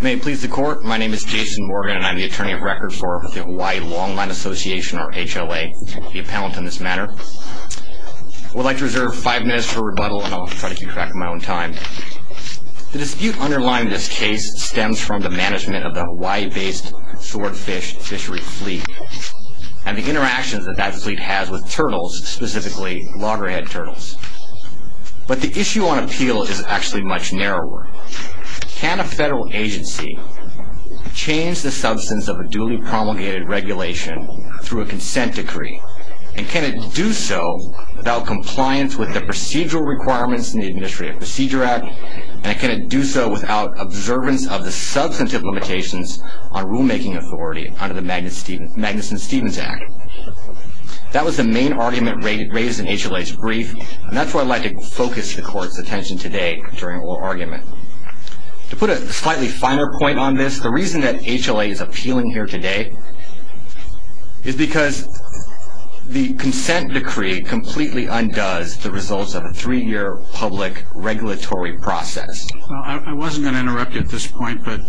May it please the Court, my name is Jason Morgan and I am the Attorney of Record for the Hawaii Longline Association or HLA. I will be a panelist in this matter. I would like to reserve five minutes for rebuttal and I will try to keep track of my own time. The dispute underlying this case stems from the management of the Hawaii-based Swordfish fishery fleet and the interactions that that fleet has with turtles, specifically loggerhead turtles. But the issue on appeal is actually much narrower. Can a federal agency change the substance of a duly promulgated regulation through a consent decree? And can it do so without compliance with the procedural requirements in the Administrative Procedure Act? And can it do so without observance of the substantive limitations on rulemaking authority under the Magnuson-Stevens Act? That was the main argument raised in HLA's brief. And that's where I'd like to focus the Court's attention today during oral argument. To put a slightly finer point on this, the reason that HLA is appealing here today is because the consent decree completely undoes the results of a three-year public regulatory process. I wasn't going to interrupt you at this point, but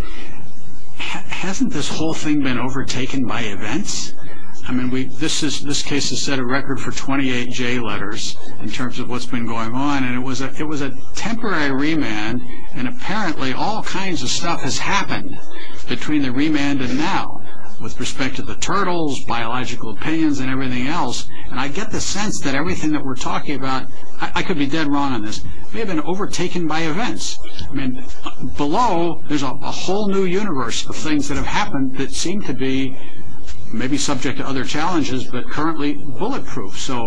hasn't this whole thing been overtaken by events? I mean, this case has set a record for 28 J letters in terms of what's been going on. And it was a temporary remand, and apparently all kinds of stuff has happened between the remand and now, with respect to the turtles, biological opinions, and everything else. And I get the sense that everything that we're talking about, I could be dead wrong on this, may have been overtaken by events. Below, there's a whole new universe of things that have happened that seem to be, maybe subject to other challenges, but currently bulletproof. So,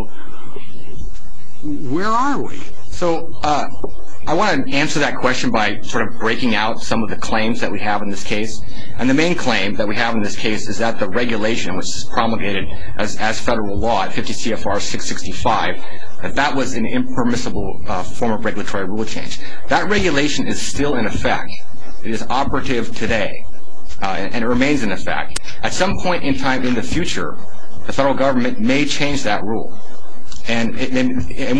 where are we? So, I want to answer that question by sort of breaking out some of the claims that we have in this case. And the main claim that we have in this case is that the regulation, which is promulgated as federal law at 50 CFR 665, that that was an impermissible form of regulatory rule change. That regulation is still in effect. It is operative today, and it remains in effect. At some point in time in the future, the federal government may change that rule. And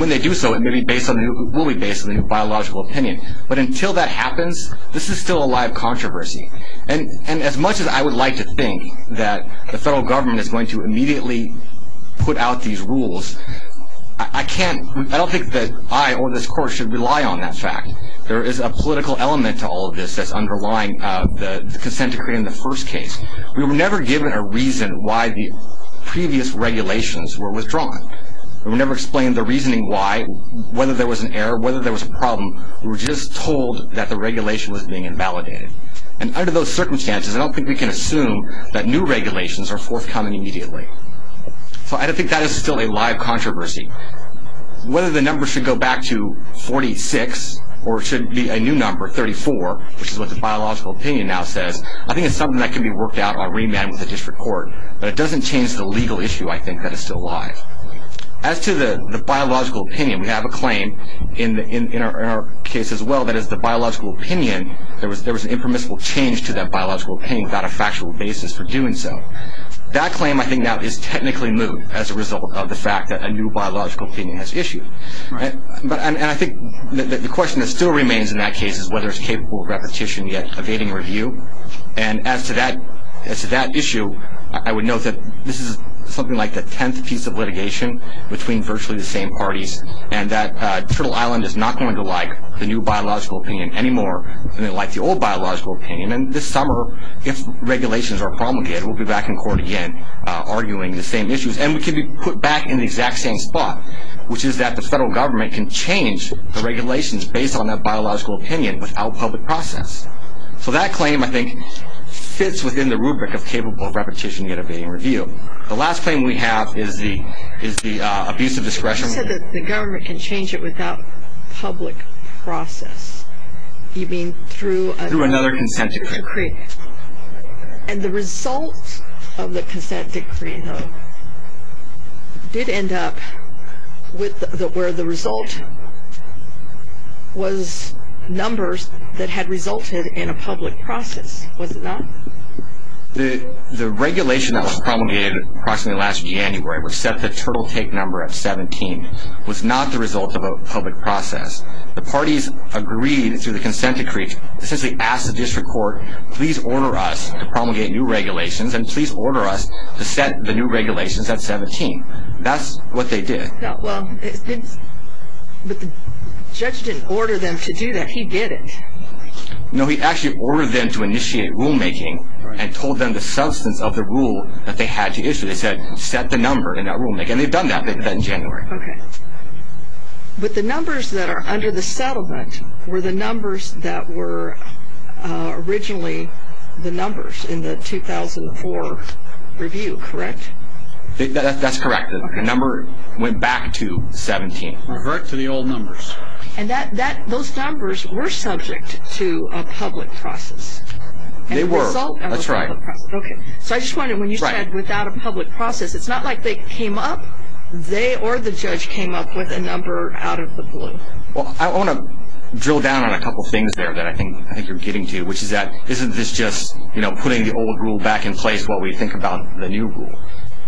when they do so, it will be based on a new biological opinion. But until that happens, this is still a live controversy. And as much as I would like to think that the federal government is going to immediately put out these rules, I don't think that I or this court should rely on that fact. There is a political element to all of this that's underlying the consent decree in the first case. We were never given a reason why the previous regulations were withdrawn. We were never explained the reasoning why, whether there was an error, whether there was a problem. We were just told that the regulation was being invalidated. And under those circumstances, I don't think we can assume that new regulations are forthcoming immediately. So I think that is still a live controversy. Whether the number should go back to 46 or it should be a new number, 34, which is what the biological opinion now says, I think it's something that can be worked out on remand with the district court. But it doesn't change the legal issue, I think, that is still alive. As to the biological opinion, we have a claim in our case as well that as the biological opinion, there was an impermissible change to that biological opinion without a factual basis for doing so. That claim, I think, now is technically new as a result of the fact that a new biological opinion has issued. And I think the question that still remains in that case is whether it's capable of repetition yet evading review. And as to that issue, I would note that this is something like the tenth piece of litigation between virtually the same parties and that Turtle Island is not going to like the new biological opinion anymore than they liked the old biological opinion. And this summer, if regulations are promulgated, we'll be back in court again arguing the same issues. And we could be put back in the exact same spot, which is that the federal government can change the regulations based on that biological opinion without public process. So that claim, I think, fits within the rubric of capable of repetition yet evading review. The last claim we have is the abuse of discretion. You said that the government can change it without public process. You mean through another consent decree. And the result of the consent decree, though, did end up where the result was numbers that had resulted in a public process. Was it not? The regulation that was promulgated approximately last January, which set the Turtle Take number at 17, was not the result of a public process. The parties agreed through the consent decree to essentially ask the district court, please order us to promulgate new regulations and please order us to set the new regulations at 17. That's what they did. But the judge didn't order them to do that. He did it. No, he actually ordered them to initiate rulemaking and told them the substance of the rule that they had to issue. They said, set the number in that rulemaking. And they've done that in January. But the numbers that are under the settlement were the numbers that were originally the numbers in the 2004 review, correct? That's correct. The number went back to 17. Revert to the old numbers. And those numbers were subject to a public process. They were, that's right. Okay. So I just wondered, when you said without a public process, it's not like they came up? They or the judge came up with a number out of the blue. Well, I want to drill down on a couple things there that I think you're getting to, which is that isn't this just, you know, putting the old rule back in place while we think about the new rule?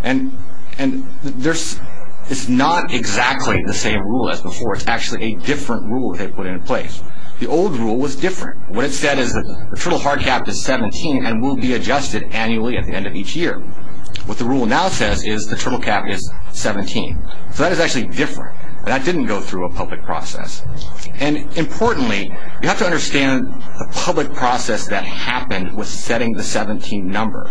And it's not exactly the same rule as before. It's actually a different rule they put in place. The old rule was different. What it said is the turtle hard cap is 17 and will be adjusted annually at the end of each year. What the rule now says is the turtle cap is 17. So that is actually different. That didn't go through a public process. And importantly, you have to understand the public process that happened with setting the 17 number.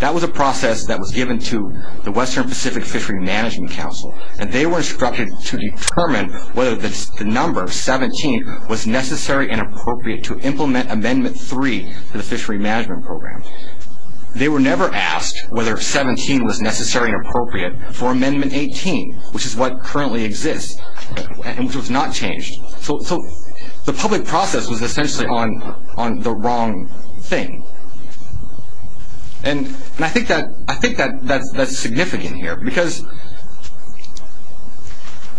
That was a process that was given to the Western Pacific Fishery Management Council. And they were instructed to determine whether the number 17 was necessary and appropriate to implement Amendment 3 to the Fishery Management Program. They were never asked whether 17 was necessary and appropriate for Amendment 18, which is what currently exists and which was not changed. So the public process was essentially on the wrong thing. And I think that's significant here because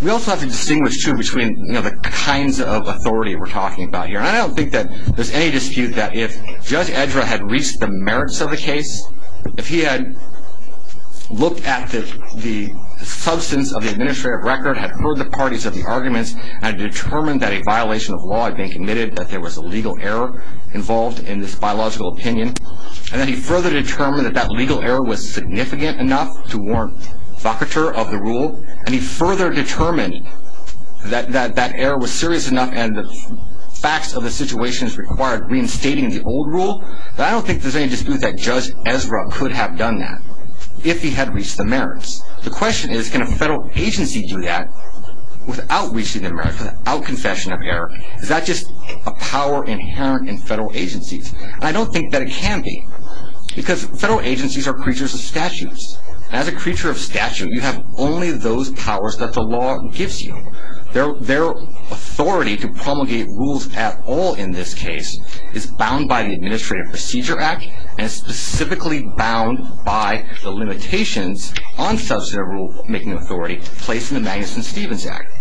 we also have to distinguish, too, between the kinds of authority we're talking about here. And I don't think that there's any dispute that if Judge Edra had reached the merits of the case, if he had looked at the substance of the administrative record, had heard the parties of the arguments, and determined that a violation of law had been committed, that there was a legal error involved in this biological opinion, and that he further determined that that legal error was significant enough to warrant vocateur of the rule, and he further determined that that error was serious enough and the facts of the situation required reinstating the old rule, then I don't think there's any dispute that Judge Edra could have done that if he had reached the merits. The question is, can a federal agency do that without reaching the merits, without confession of error? Is that just a power inherent in federal agencies? And I don't think that it can be because federal agencies are creatures of statutes. As a creature of statute, you have only those powers that the law gives you. Their authority to promulgate rules at all in this case is bound by the Administrative Procedure Act and is specifically bound by the limitations on substantive rule-making authority placed in the Magnuson-Stevens Act.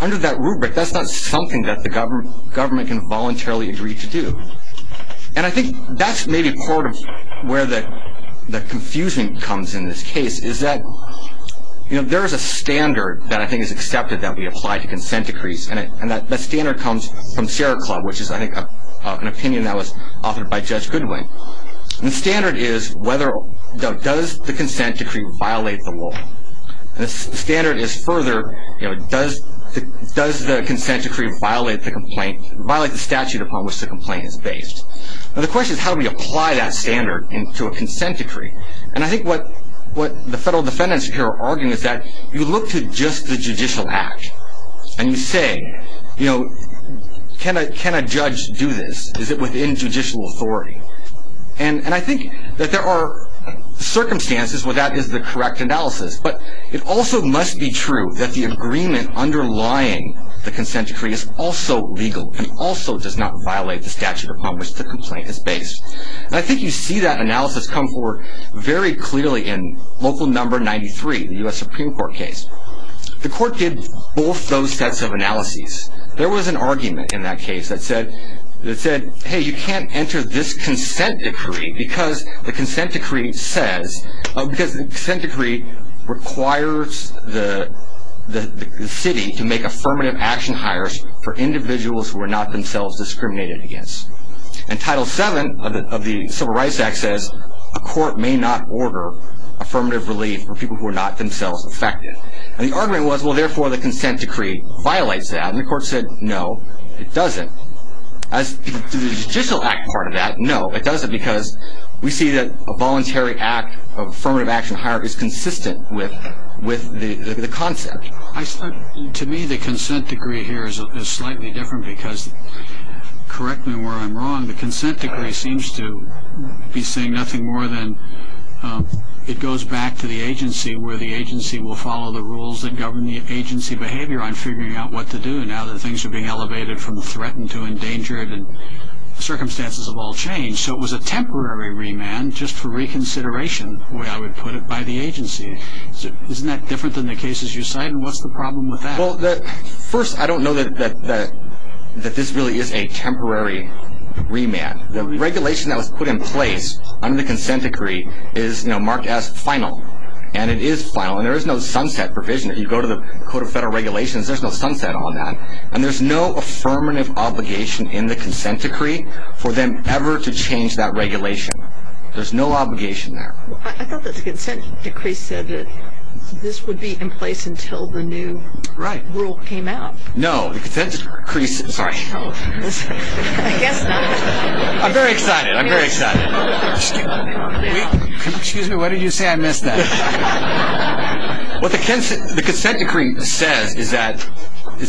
Under that rubric, that's not something that the government can voluntarily agree to do. And I think that's maybe part of where the confusion comes in this case, is that there is a standard that I think is accepted that we apply to consent decrees, and that standard comes from Sierra Club, which is, I think, an opinion that was offered by Judge Goodwin. The standard is, does the consent decree violate the law? The standard is further, does the consent decree violate the statute upon which the complaint is based? Now, the question is, how do we apply that standard to a consent decree? And I think what the federal defendants here are arguing is that you look to just the judicial act, and you say, can a judge do this? Is it within judicial authority? And I think that there are circumstances where that is the correct analysis, but it also must be true that the agreement underlying the consent decree is also legal and also does not violate the statute upon which the complaint is based. And I think you see that analysis come forward very clearly in Local No. 93, the U.S. Supreme Court case. The court did both those sets of analyses. There was an argument in that case that said, hey, you can't enter this consent decree because the consent decree requires the city to make affirmative action hires for individuals who are not themselves discriminated against. And Title VII of the Civil Rights Act says, a court may not order affirmative relief for people who are not themselves affected. And the argument was, well, therefore, the consent decree violates that. And the court said, no, it doesn't. As to the judicial act part of that, no, it doesn't, because we see that a voluntary act of affirmative action hire is consistent with the concept. To me, the consent decree here is slightly different because, correct me where I'm wrong, the consent decree seems to be saying nothing more than it goes back to the agency and the agency will follow the rules that govern the agency behavior on figuring out what to do now that things are being elevated from threatened to endangered and circumstances have all changed. So it was a temporary remand just for reconsideration, the way I would put it, by the agency. Isn't that different than the cases you cite? And what's the problem with that? Well, first, I don't know that this really is a temporary remand. The regulation that was put in place under the consent decree is marked as final. And it is final, and there is no sunset provision. If you go to the Code of Federal Regulations, there's no sunset on that. And there's no affirmative obligation in the consent decree for them ever to change that regulation. There's no obligation there. I thought that the consent decree said that this would be in place until the new rule came out. Right. No, the consent decree, sorry. I guess not. I'm very excited. I'm very excited. Excuse me, what did you say? I missed that. What the consent decree says is that the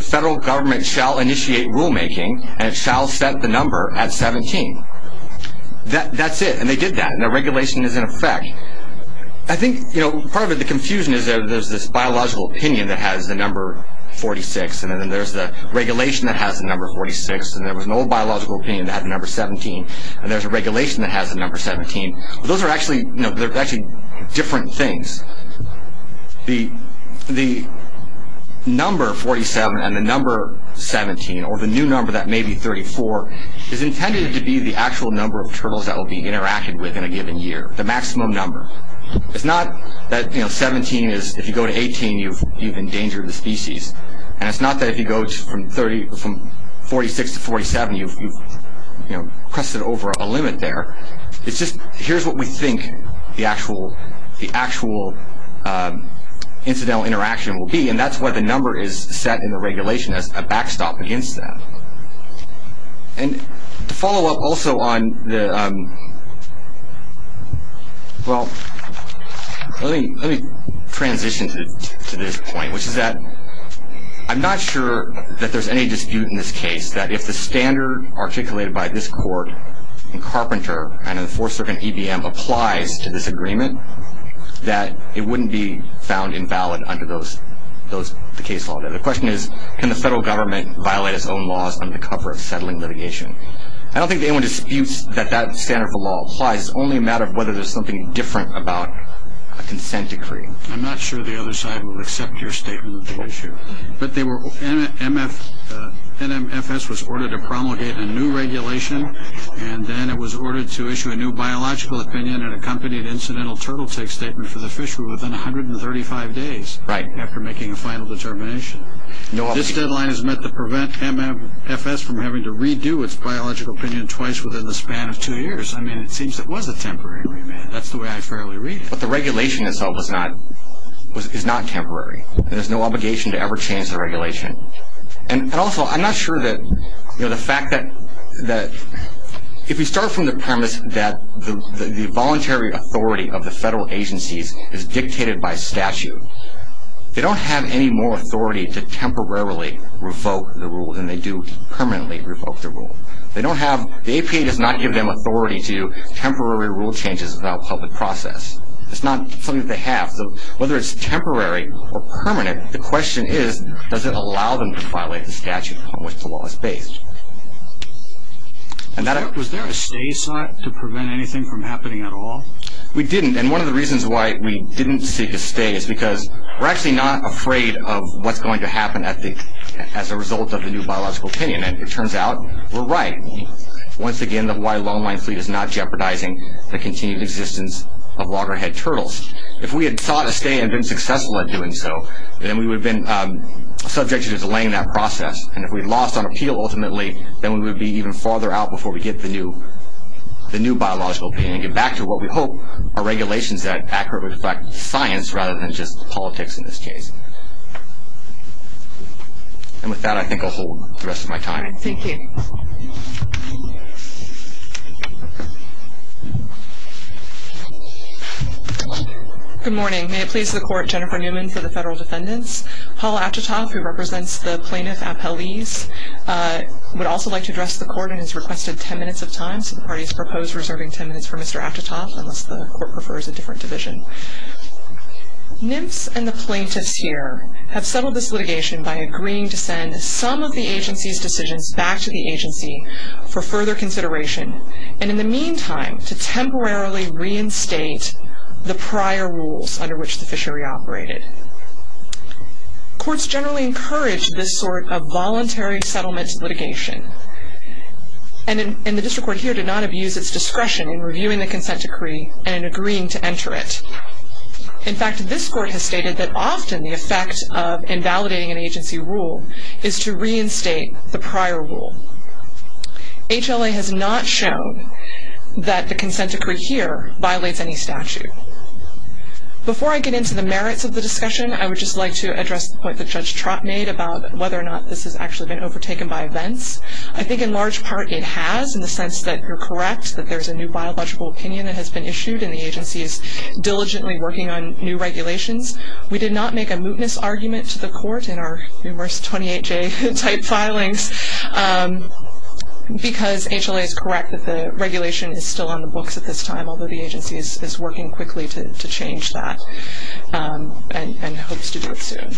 federal government shall initiate rulemaking, and it shall set the number at 17. That's it, and they did that, and the regulation is in effect. I think part of the confusion is that there's this biological opinion that has the number 46, and then there's the regulation that has the number 46, and there was an old biological opinion that had the number 17, and there's a regulation that has the number 17. Those are actually different things. The number 47 and the number 17, or the new number that may be 34, is intended to be the actual number of turtles that will be interacted with in a given year, the maximum number. It's not that 17 is, if you go to 18, you've endangered the species. It's not that if you go from 46 to 47, you've crested over a limit there. It's just here's what we think the actual incidental interaction will be, and that's why the number is set in the regulation as a backstop against that. To follow up also on the, well, let me transition to this point, which is that I'm not sure that there's any dispute in this case that if the standard articulated by this court in Carpenter and in the Fourth Circuit and EBM applies to this agreement, that it wouldn't be found invalid under the case law. The question is, can the federal government violate its own laws under cover of settling litigation? I don't think anyone disputes that that standard of the law applies. It's only a matter of whether there's something different about a consent decree. I'm not sure the other side would accept your statement of the issue. But they were, NMFS was ordered to promulgate a new regulation, and then it was ordered to issue a new biological opinion and accompanied incidental turtle take statement for the fishery within 135 days after making a final determination. This deadline is meant to prevent NMFS from having to redo its biological opinion twice within the span of two years. I mean, it seems it was a temporary remand. That's the way I fairly read it. But the regulation itself is not temporary. There's no obligation to ever change the regulation. And also, I'm not sure that, you know, the fact that if we start from the premise that the voluntary authority of the federal agencies is dictated by statute, they don't have any more authority to temporarily revoke the rule than they do to permanently revoke the rule. They don't have, the APA does not give them authority to do temporary rule changes without public process. It's not something that they have. So whether it's temporary or permanent, the question is, does it allow them to violate the statute on which the law is based? And that I... Was there a stay sought to prevent anything from happening at all? We didn't. And one of the reasons why we didn't seek a stay is because we're actually not afraid of what's going to happen as a result of the new biological opinion. And it turns out, we're right. Once again, the Hawaii Long Line Fleet is not jeopardizing the continued existence of loggerhead turtles. If we had sought a stay and been successful at doing so, then we would have been subject to delaying that process. And if we lost on appeal, ultimately, then we would be even farther out before we get the new biological opinion and get back to what we hope are regulations that accurately reflect science rather than just politics in this case. And with that, I think I'll hold the rest of my time. Thank you. Good morning. May it please the Court, Jennifer Newman for the Federal Defendants. Paul Atchitoff, who represents the Plaintiff Appellees, would also like to address the Court and has requested ten minutes of time. So the parties propose reserving ten minutes for Mr. Atchitoff, unless the Court prefers a different division. NMFS and the plaintiffs here have settled this litigation by agreeing to send some of the agency's decisions back to the agency for further consideration and in the meantime, to temporarily reinstate the prior rules under which the fishery operated. Courts generally encourage this sort of voluntary settlement litigation. And the District Court here did not abuse its discretion in reviewing the consent decree and in agreeing to enter it. In fact, this Court has stated that often the effect of invalidating an agency rule is to reinstate the prior rule. HLA has not shown that the consent decree here violates any statute. Before I get into the merits of the discussion, I would just like to address the point that Judge Trott made about whether or not this has actually been overtaken by events. I think in large part it has, in the sense that you're correct, that there's a new biological opinion that has been issued and the agency is diligently working on new regulations. We did not make a mootness argument to the Court in our numerous 28-J type filings because HLA is correct that the regulation is still on the books at this time, although the agency is working quickly to change that and hopes to do it soon.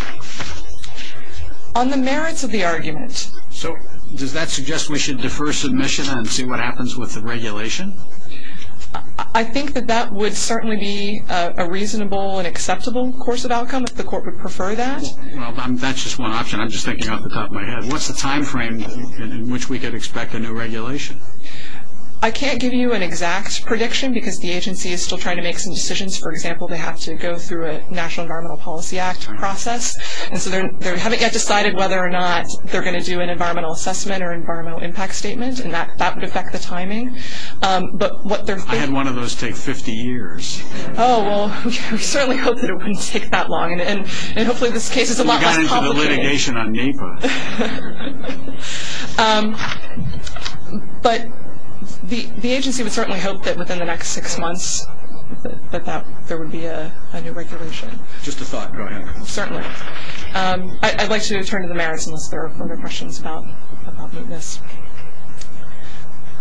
On the merits of the argument. So, does that suggest we should defer submission and see what happens with the regulation? I think that that would certainly be a reasonable and acceptable course of outcome if the Court would prefer that. Well, that's just one option. I'm just thinking off the top of my head. What's the time frame in which we could expect a new regulation? I can't give you an exact prediction because the agency is still trying to make some decisions. For example, they have to go through a National Environmental Policy Act process, and so they haven't yet decided whether or not they're going to do an environmental assessment or environmental impact statement, and that would affect the timing. I had one of those take 50 years. Oh, well, we certainly hope that it wouldn't take that long, and hopefully this case is a lot less complicated. You got into the litigation on NEPA. But the agency would certainly hope that within the next six months that there would be a new regulation. Just a thought, go ahead. Certainly. I'd like to turn to the merits unless there are further questions about mootness.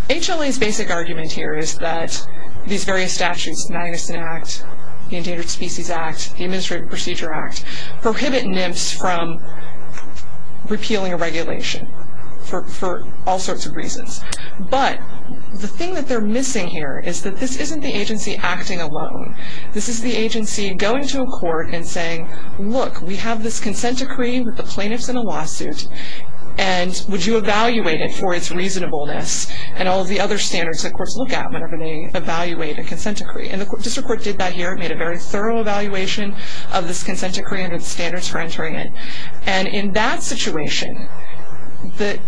HLA's basic argument here is that these various statutes, the Magnuson Act, the Endangered Species Act, the Administrative Procedure Act, prohibit NMFs from repealing a regulation for all sorts of reasons. But the thing that they're missing here is that this isn't the agency acting alone. This is the agency going to a court and saying, look, we have this consent decree with the plaintiffs in a lawsuit, and would you evaluate it for its reasonableness, and all of the other standards the courts look at whenever they evaluate a consent decree. And the district court did that here. It made a very thorough evaluation of this consent decree and its standards for entering it. And in that situation, the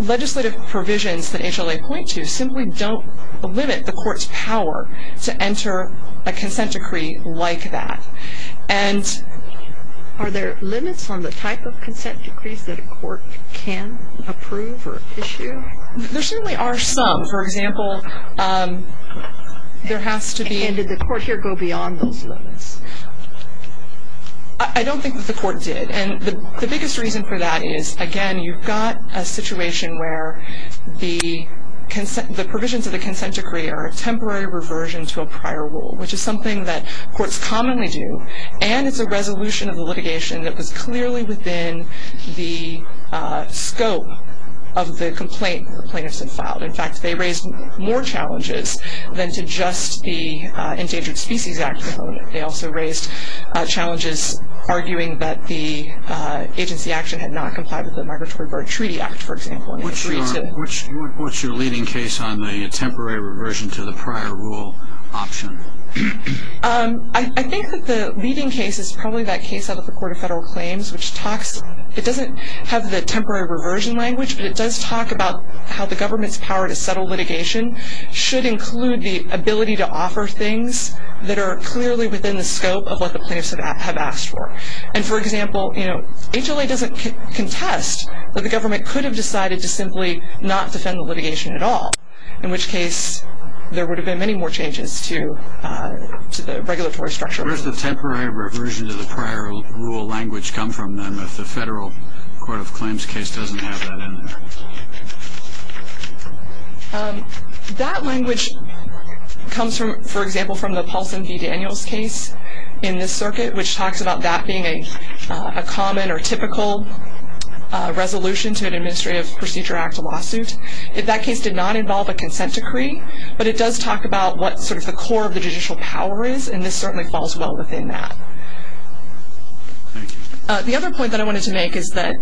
legislative provisions that HLA point to simply don't limit the court's power to enter a consent decree like that. Are there limits on the type of consent decrees that a court can approve or issue? There certainly are some. For example, there has to be- And did the court here go beyond those limits? I don't think that the court did. And the biggest reason for that is, again, you've got a situation where the provisions of the consent decree are a temporary reversion to a prior rule, which is something that courts commonly do, and it's a resolution of the litigation that was clearly within the scope of the complaint that the plaintiffs had filed. In fact, they raised more challenges than to just the Endangered Species Act. They also raised challenges arguing that the agency action had not complied with the Migratory Bird Treaty Act, for example. What's your leading case on the temporary reversion to the prior rule option? I think that the leading case is probably that case out of the Court of Federal Claims, which talks- It doesn't have the temporary reversion language, but it does talk about how the government's power to settle litigation should include the ability to offer things that are clearly within the scope of what the plaintiffs have asked for. And, for example, HLA doesn't contest that the government could have decided to simply not defend the litigation at all, in which case there would have been many more changes to the regulatory structure. Where does the temporary reversion to the prior rule language come from, then, if the Federal Court of Claims case doesn't have that in there? That language comes, for example, from the Paulson v. Daniels case in this circuit, which talks about that being a common or typical resolution to an Administrative Procedure Act lawsuit. That case did not involve a consent decree, but it does talk about what sort of the core of the judicial power is, and this certainly falls well within that. Thank you. The other point that I wanted to make is that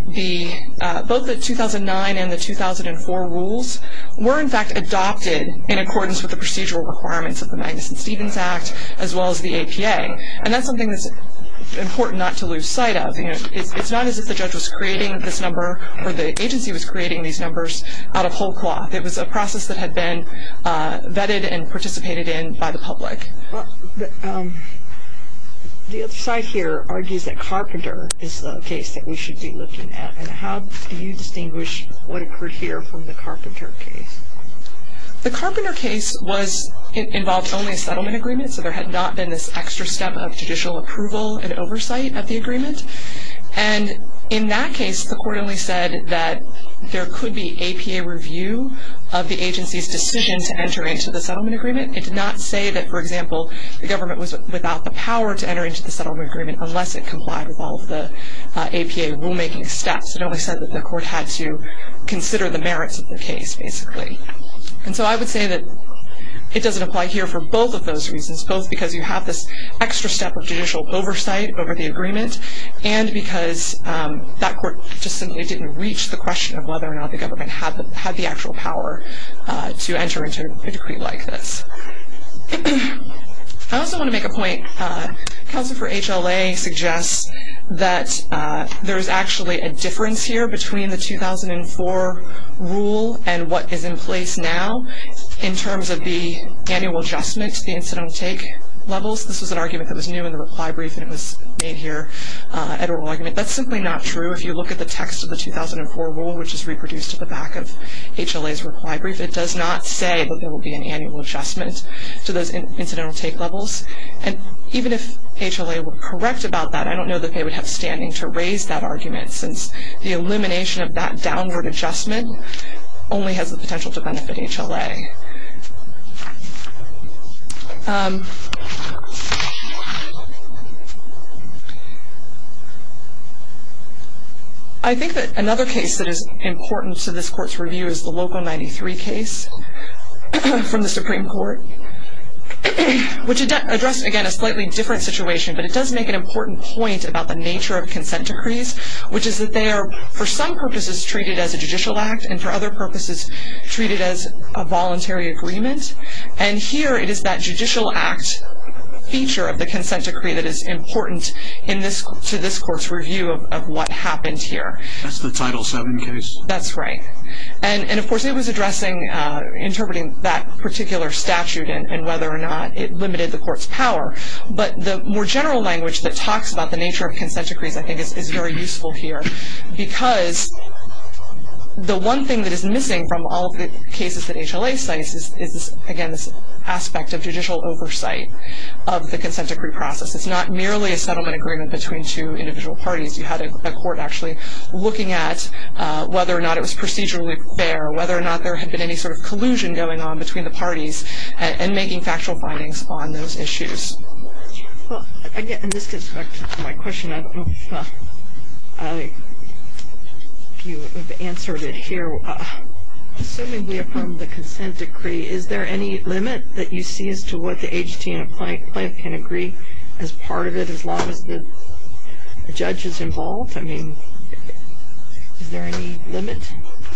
both the 2009 and the 2004 rules were, in fact, adopted in accordance with the procedural requirements of the Magnuson-Stevens Act, as well as the APA. And that's something that's important not to lose sight of. It's not as if the judge was creating this number or the agency was creating these numbers out of whole cloth. The other side here argues that Carpenter is the case that we should be looking at, and how do you distinguish what occurred here from the Carpenter case? The Carpenter case involved only a settlement agreement, so there had not been this extra step of judicial approval and oversight of the agreement. And in that case, the Court only said that there could be APA review of the agency's decision to enter into the settlement agreement. It did not say that, for example, the government was without the power to enter into the settlement agreement unless it complied with all of the APA rulemaking steps. It only said that the Court had to consider the merits of the case, basically. And so I would say that it doesn't apply here for both of those reasons, both because you have this extra step of judicial oversight over the agreement and because that Court just simply didn't reach the question of whether or not the government had the actual power to enter into a decree like this. I also want to make a point. Counsel for HLA suggests that there is actually a difference here between the 2004 rule and what is in place now in terms of the annual adjustment to the incidental take levels. This was an argument that was new in the reply brief, and it was made here at oral argument. That's simply not true. If you look at the text of the 2004 rule, which is reproduced at the back of HLA's reply brief, it does not say that there will be an annual adjustment to those incidental take levels. And even if HLA were correct about that, I don't know that they would have standing to raise that argument since the elimination of that downward adjustment only has the potential to benefit HLA. I think that another case that is important to this Court's review is the Local 93 case from the Supreme Court, which addressed, again, a slightly different situation, but it does make an important point about the nature of consent decrees, which is that they are, for some purposes, treated as a judicial act, and for other purposes, treated as a voluntary agreement. And here it is that judicial act feature of the consent decree that is important to this Court's review of what happened here. That's the Title VII case? That's right. And, of course, it was interpreting that particular statute and whether or not it limited the Court's power. But the more general language that talks about the nature of consent decrees, I think, is very useful here because the one thing that is missing from all of the cases that HLA cites is, again, this aspect of judicial oversight of the consent decree process. It's not merely a settlement agreement between two individual parties. You had a Court actually looking at whether or not it was procedurally fair, whether or not there had been any sort of collusion going on between the parties, and making factual findings on those issues. Well, again, this gets back to my question. I don't know if you have answered it here. Assuming we affirm the consent decree, is there any limit that you see as to what the AGT and the plaintiff can agree as part of it as long as the judge is involved? I mean, is there any limit?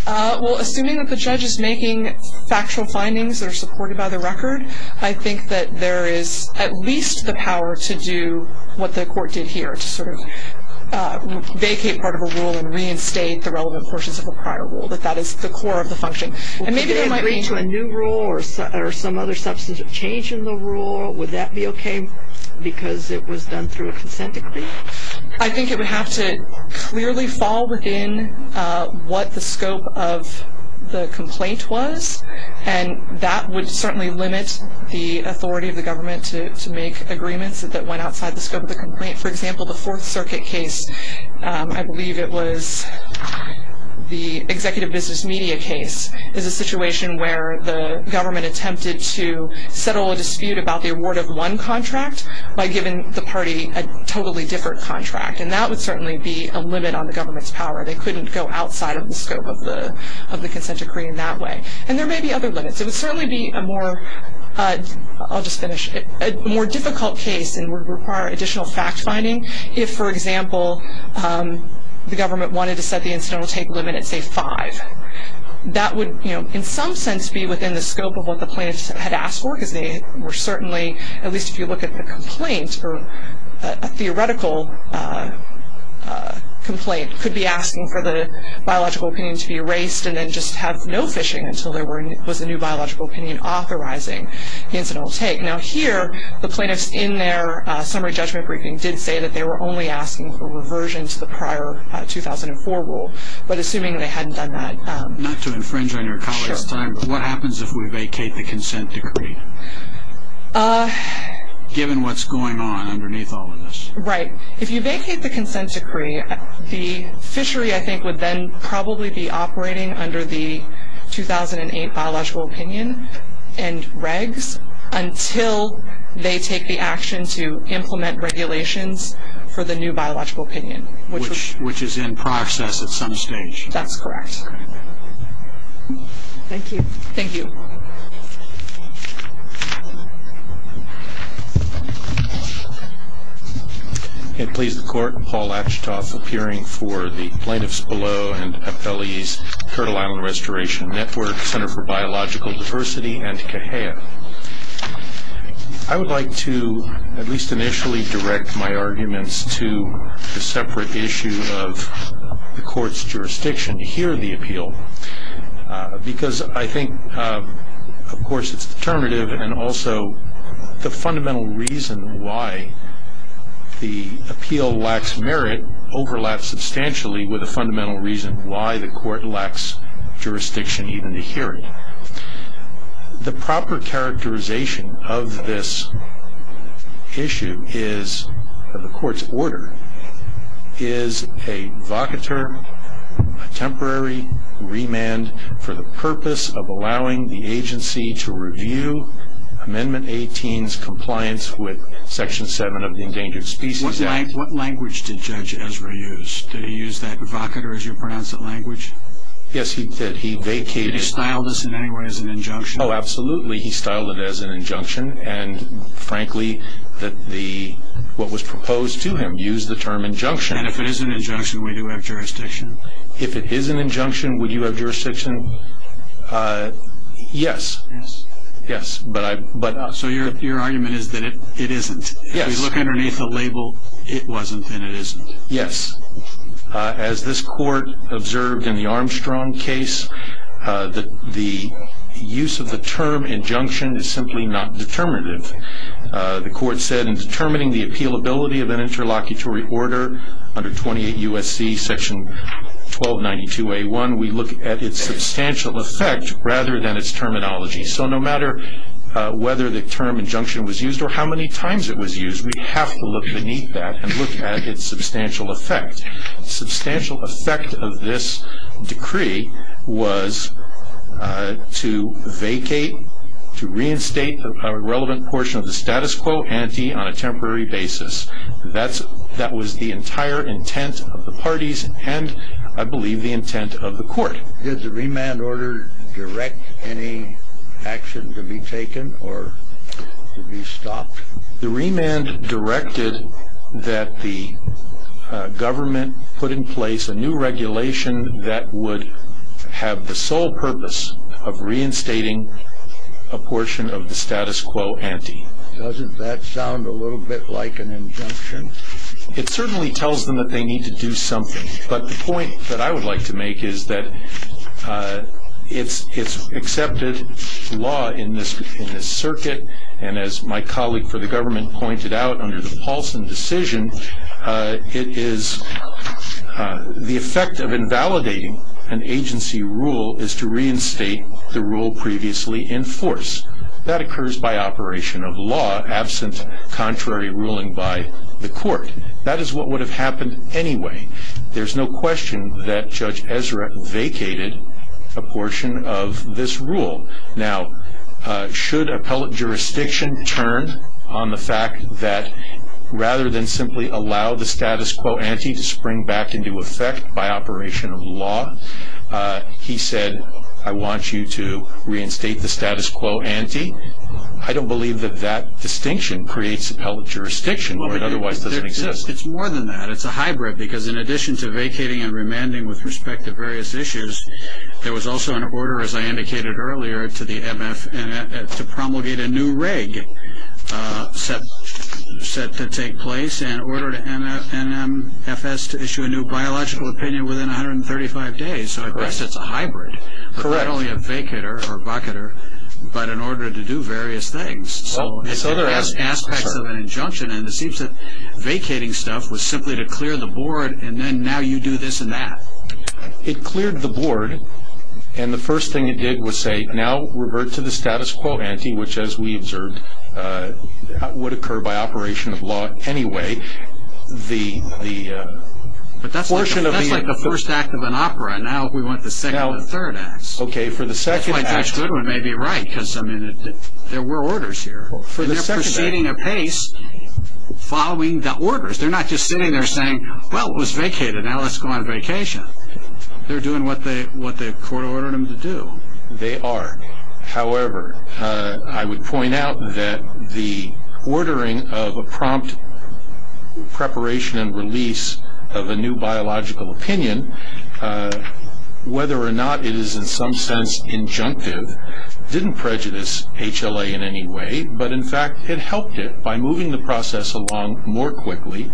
Well, assuming that the judge is making factual findings that are supported by the record, I think that there is at least the power to do what the Court did here, to sort of vacate part of a rule and reinstate the relevant portions of a prior rule, that that is the core of the function. Well, could they agree to a new rule or some other substantive change in the rule? Would that be okay because it was done through a consent decree? I think it would have to clearly fall within what the scope of the complaint was, and that would certainly limit the authority of the government to make agreements that went outside the scope of the complaint. For example, the Fourth Circuit case, I believe it was the Executive Business Media case, is a situation where the government attempted to settle a dispute about the award of one contract by giving the party a totally different contract, and that would certainly be a limit on the government's power. They couldn't go outside of the scope of the consent decree in that way. And there may be other limits. It would certainly be a more difficult case and would require additional fact-finding if, for example, the government wanted to set the incidental take limit at, say, five. That would, in some sense, be within the scope of what the plaintiffs had asked for because they were certainly, at least if you look at the complaint, a theoretical complaint could be asking for the biological opinion to be erased and then just have no fishing until there was a new biological opinion authorizing the incidental take. Now here, the plaintiffs in their summary judgment briefing did say that they were only asking for reversion to the prior 2004 rule, but assuming they hadn't done that. Not to infringe on your colleagues' time, but what happens if we vacate the consent decree, given what's going on underneath all of this? Right. If you vacate the consent decree, the fishery, I think, would then probably be operating under the 2008 biological opinion and regs until they take the action to implement regulations for the new biological opinion. Which is in process at some stage. That's correct. Thank you. Thank you. Please, the Court. Paul Achtoth, appearing for the Plaintiffs Below and Appellees, Kirtle Island Restoration Network, Center for Biological Diversity, and CAHEA. I would like to at least initially direct my arguments to a separate issue of the Court's jurisdiction to hear the appeal. Because I think, of course, it's determinative, and also the fundamental reason why the appeal lacks merit overlaps substantially with the fundamental reason why the Court lacks jurisdiction even to hear it. The proper characterization of this issue is, of the Court's order, is a vocateur, a temporary remand for the purpose of allowing the agency to review Amendment 18's compliance with Section 7 of the Endangered Species Act. What language did Judge Ezra use? Did he use that vocateur, as you pronounce it, language? Yes, he did. Did he style this in any way as an injunction? Oh, absolutely. He styled it as an injunction. And, frankly, what was proposed to him used the term injunction. And if it is an injunction, would he have jurisdiction? If it is an injunction, would you have jurisdiction? Yes. Yes. Yes. So your argument is that it isn't. Yes. If you look underneath the label, it wasn't, and it isn't. Yes. As this Court observed in the Armstrong case, the use of the term injunction is simply not determinative. The Court said in determining the appealability of an interlocutory order under 28 U.S.C. Section 1292A1, we look at its substantial effect rather than its terminology. So no matter whether the term injunction was used or how many times it was used, we have to look beneath that and look at its substantial effect. Substantial effect of this decree was to vacate, to reinstate a relevant portion of the status quo ante on a temporary basis. That was the entire intent of the parties and, I believe, the intent of the Court. Did the remand order direct any action to be taken or to be stopped? The remand directed that the government put in place a new regulation that would have the sole purpose of reinstating a portion of the status quo ante. Doesn't that sound a little bit like an injunction? It certainly tells them that they need to do something, but the point that I would like to make is that it's accepted law in this circuit, and as my colleague for the government pointed out under the Paulson decision, the effect of invalidating an agency rule is to reinstate the rule previously in force. That occurs by operation of law, absent contrary ruling by the Court. That is what would have happened anyway. There's no question that Judge Ezra vacated a portion of this rule. Now, should appellate jurisdiction turn on the fact that, rather than simply allow the status quo ante to spring back into effect by operation of law, he said, I want you to reinstate the status quo ante, I don't believe that that distinction creates appellate jurisdiction, where it otherwise doesn't exist. It's more than that. It's a hybrid, because in addition to vacating and remanding with respect to various issues, there was also an order, as I indicated earlier, to promulgate a new reg set to take place, and an order to NFS to issue a new biological opinion within 135 days. So I guess it's a hybrid. Correct. But not only a vacater or bucketer, but an order to do various things. So there are aspects of an injunction, and it seems that vacating stuff was simply to clear the board, and then now you do this and that. It cleared the board, and the first thing it did was say, now revert to the status quo ante, which, as we observed, would occur by operation of law anyway. But that's like the first act of an opera. Now we want the second and third acts. Okay, for the second act. That's why Judge Goodwin may be right, because there were orders here. They're proceeding apace, following the orders. They're not just sitting there saying, well, it was vacated, now let's go on vacation. They're doing what the court ordered them to do. They are. However, I would point out that the ordering of a prompt preparation and release of a new biological opinion, whether or not it is in some sense injunctive, didn't prejudice HLA in any way, but in fact it helped it by moving the process along more quickly.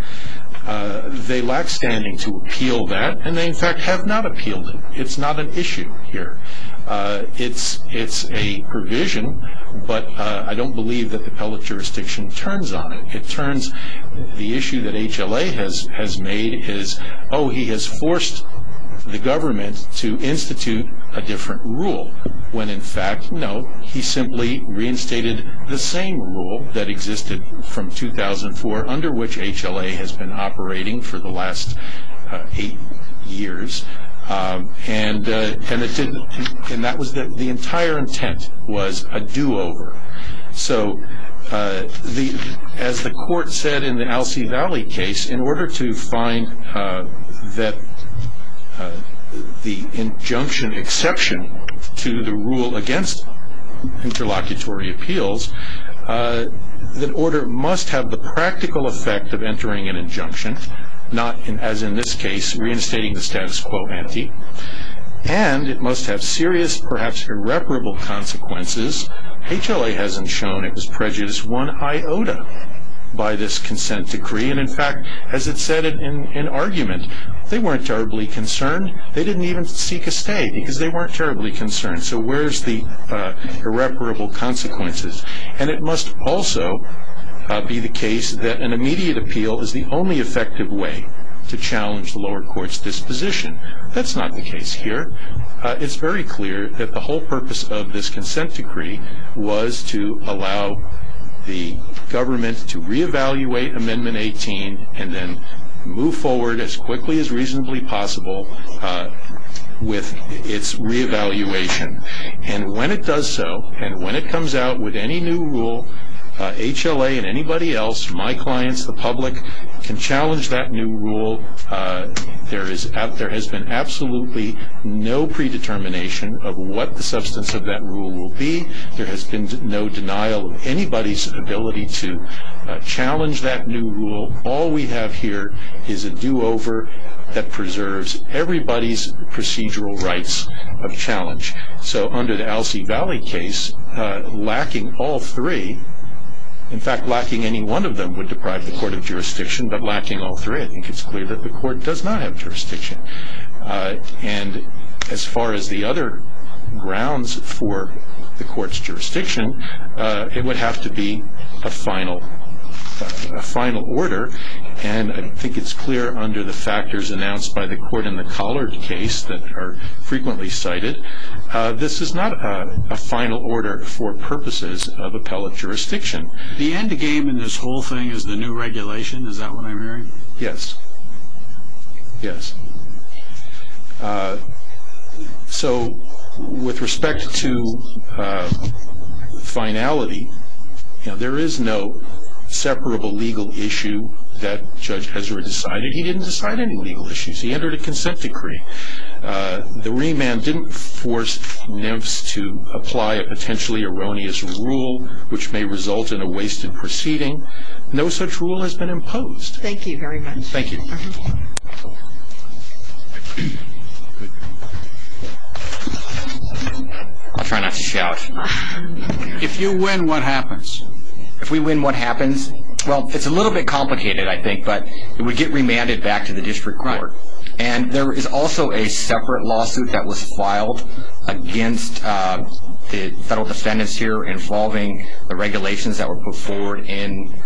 They lack standing to appeal that, and they in fact have not appealed it. It's not an issue here. It's a provision, but I don't believe that the appellate jurisdiction turns on it. The issue that HLA has made is, oh, he has forced the government to institute a different rule, when in fact, no, he simply reinstated the same rule that existed from 2004, under which HLA has been operating for the last eight years, and that was that the entire intent was a do-over. As the court said in the Alcee Valley case, in order to find the injunction exception to the rule against interlocutory appeals, the order must have the practical effect of entering an injunction, not, as in this case, reinstating the status quo ante, and it must have serious, perhaps irreparable consequences. HLA hasn't shown it was prejudice one iota by this consent decree, and in fact, as it said in argument, they weren't terribly concerned. They didn't even seek a stay, because they weren't terribly concerned. So where's the irreparable consequences? And it must also be the case that an immediate appeal is the only effective way to challenge the lower court's disposition. That's not the case here. It's very clear that the whole purpose of this consent decree was to allow the government to re-evaluate Amendment 18 and then move forward as quickly as reasonably possible with its re-evaluation. And when it does so, and when it comes out with any new rule, HLA and anybody else, my clients, the public, can challenge that new rule. There has been absolutely no predetermination of what the substance of that rule will be. There has been no denial of anybody's ability to challenge that new rule. All we have here is a do-over that preserves everybody's procedural rights of challenge. So under the Alcee Valley case, lacking all three, in fact, lacking any one of them would deprive the court of jurisdiction, but lacking all three, I think it's clear that the court does not have jurisdiction. And as far as the other grounds for the court's jurisdiction, it would have to be a final order. And I think it's clear under the factors announced by the court in the Collard case that are frequently cited, this is not a final order for purposes of appellate jurisdiction. The end game in this whole thing is the new regulation. Is that what I'm hearing? Yes. Yes. So with respect to finality, there is no separable legal issue that Judge Kessler decided. He didn't decide any legal issues. He entered a consent decree. The remand didn't force NIFS to apply a potentially erroneous rule, which may result in a wasted proceeding. No such rule has been imposed. Thank you very much. Thank you. I'll try not to shout. If you win, what happens? If we win, what happens? Well, it's a little bit complicated, I think, but it would get remanded back to the district court. And there is also a separate lawsuit that was filed against the federal defendants here involving the regulations that were put forward in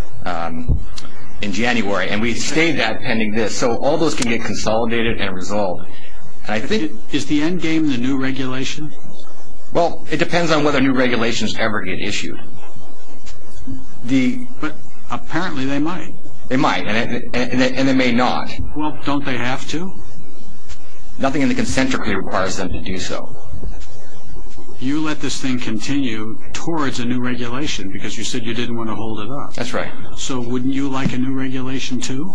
January. And we had stayed that pending this. So all those can get consolidated and resolved. Is the end game the new regulation? Well, it depends on whether new regulations ever get issued. But apparently they might. They might, and they may not. Well, don't they have to? Nothing in the consent decree requires them to do so. You let this thing continue towards a new regulation because you said you didn't want to hold it up. That's right. So wouldn't you like a new regulation, too?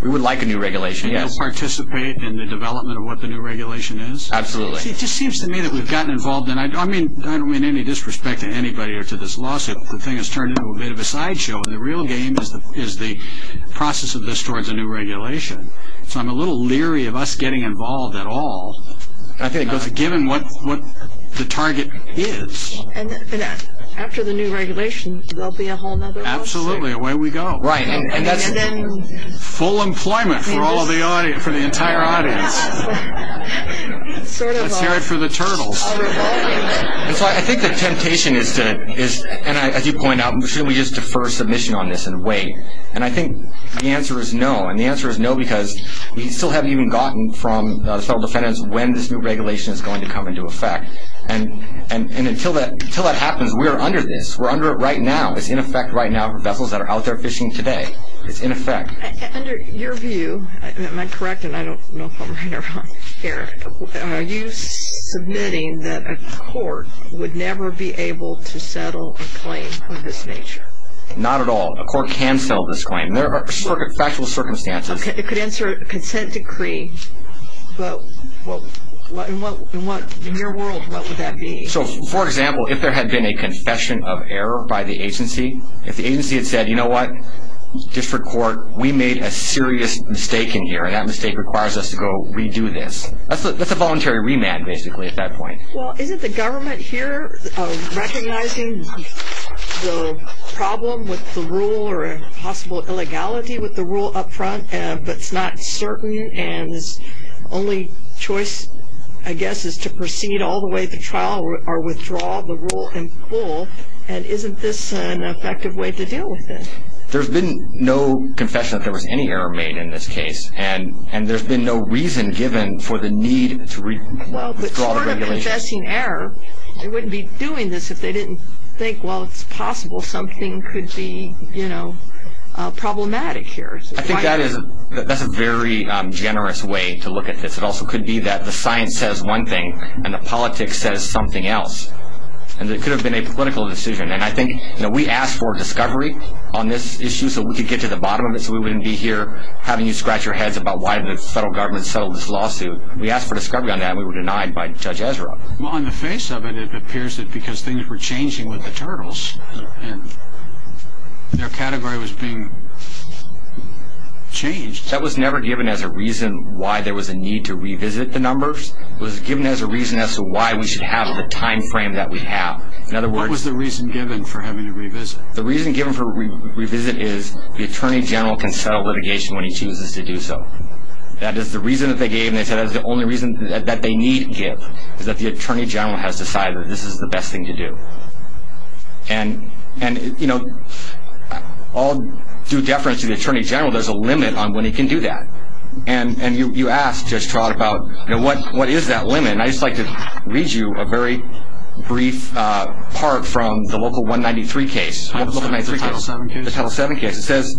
We would like a new regulation, yes. You'll participate in the development of what the new regulation is? Absolutely. It just seems to me that we've gotten involved, and I don't mean any disrespect to anybody or to this lawsuit. But the thing has turned into a bit of a sideshow, and the real game is the process of this towards a new regulation. So I'm a little leery of us getting involved at all, given what the target is. And after the new regulation, there will be a whole other lawsuit. Absolutely. Away we go. Full employment for the entire audience. Let's hear it for the turtles. And so I think the temptation is to, and as you point out, shouldn't we just defer submission on this and wait? And I think the answer is no, and the answer is no because we still haven't even gotten from the federal defendants when this new regulation is going to come into effect. And until that happens, we are under this. We're under it right now. It's in effect right now for vessels that are out there fishing today. It's in effect. Under your view, am I correct, and I don't know if I'm right or wrong, Eric, are you submitting that a court would never be able to settle a claim of this nature? Not at all. A court can settle this claim. There are factual circumstances. Okay. It could answer a consent decree, but in your world, what would that be? So, for example, if there had been a confession of error by the agency, if the agency had said, you know what, district court, we made a serious mistake in here, and that mistake requires us to go redo this, that's a voluntary remand basically at that point. Well, isn't the government here recognizing the problem with the rule or a possible illegality with the rule up front, but it's not certain and the only choice, I guess, is to proceed all the way to trial or withdraw the rule and pull, and isn't this an effective way to deal with it? There's been no confession that there was any error made in this case, and there's been no reason given for the need to withdraw the regulation. Well, but sort of confessing error, they wouldn't be doing this if they didn't think, well, it's possible something could be, you know, problematic here. I think that's a very generous way to look at this. It also could be that the science says one thing and the politics says something else, and it could have been a political decision. And I think, you know, we asked for discovery on this issue so we could get to the bottom of it so we wouldn't be here having you scratch your heads about why the federal government settled this lawsuit. We asked for discovery on that and we were denied by Judge Ezra. Well, on the face of it, it appears that because things were changing with the turtles and their category was being changed. That was never given as a reason why there was a need to revisit the numbers. It was given as a reason as to why we should have the time frame that we have. What was the reason given for having to revisit? The reason given for revisit is the Attorney General can settle litigation when he chooses to do so. That is the reason that they gave, and they said that's the only reason that they need to give, is that the Attorney General has decided that this is the best thing to do. And, you know, all due deference to the Attorney General, there's a limit on when he can do that. And you asked, Judge Trott, about what is that limit, and I'd just like to read you a very brief part from the Local 193 case. The Title 7 case. The Title 7 case. It says,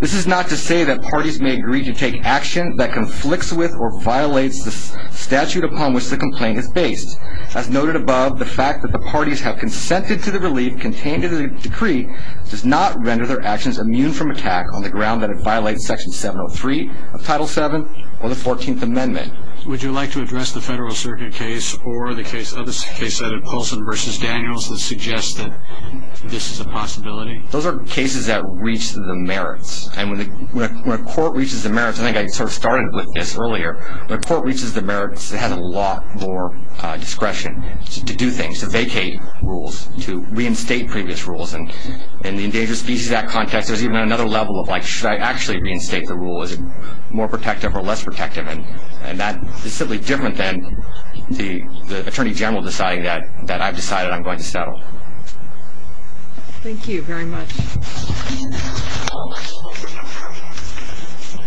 This is not to say that parties may agree to take action that conflicts with or violates the statute upon which the complaint is based. As noted above, the fact that the parties have consented to the relief contained in the decree does not render their actions immune from attack on the ground that it violates Section 703 of Title 7 or the 14th Amendment. Would you like to address the Federal Circuit case or the case of the case of Paulson v. Daniels that suggests that this is a possibility? Those are cases that reach the merits, and when a court reaches the merits, and I think I sort of started with this earlier, when a court reaches the merits, it has a lot more discretion to do things, to vacate rules, to reinstate previous rules, and in the Endangered Species Act context, there's even another level of like, should I actually reinstate the rule? Is it more protective or less protective? And that is simply different than the Attorney General deciding that I've decided I'm going to settle. Thank you very much.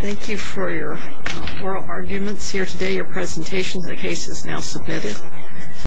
Thank you for your oral arguments here today, your presentations. The case is now submitted.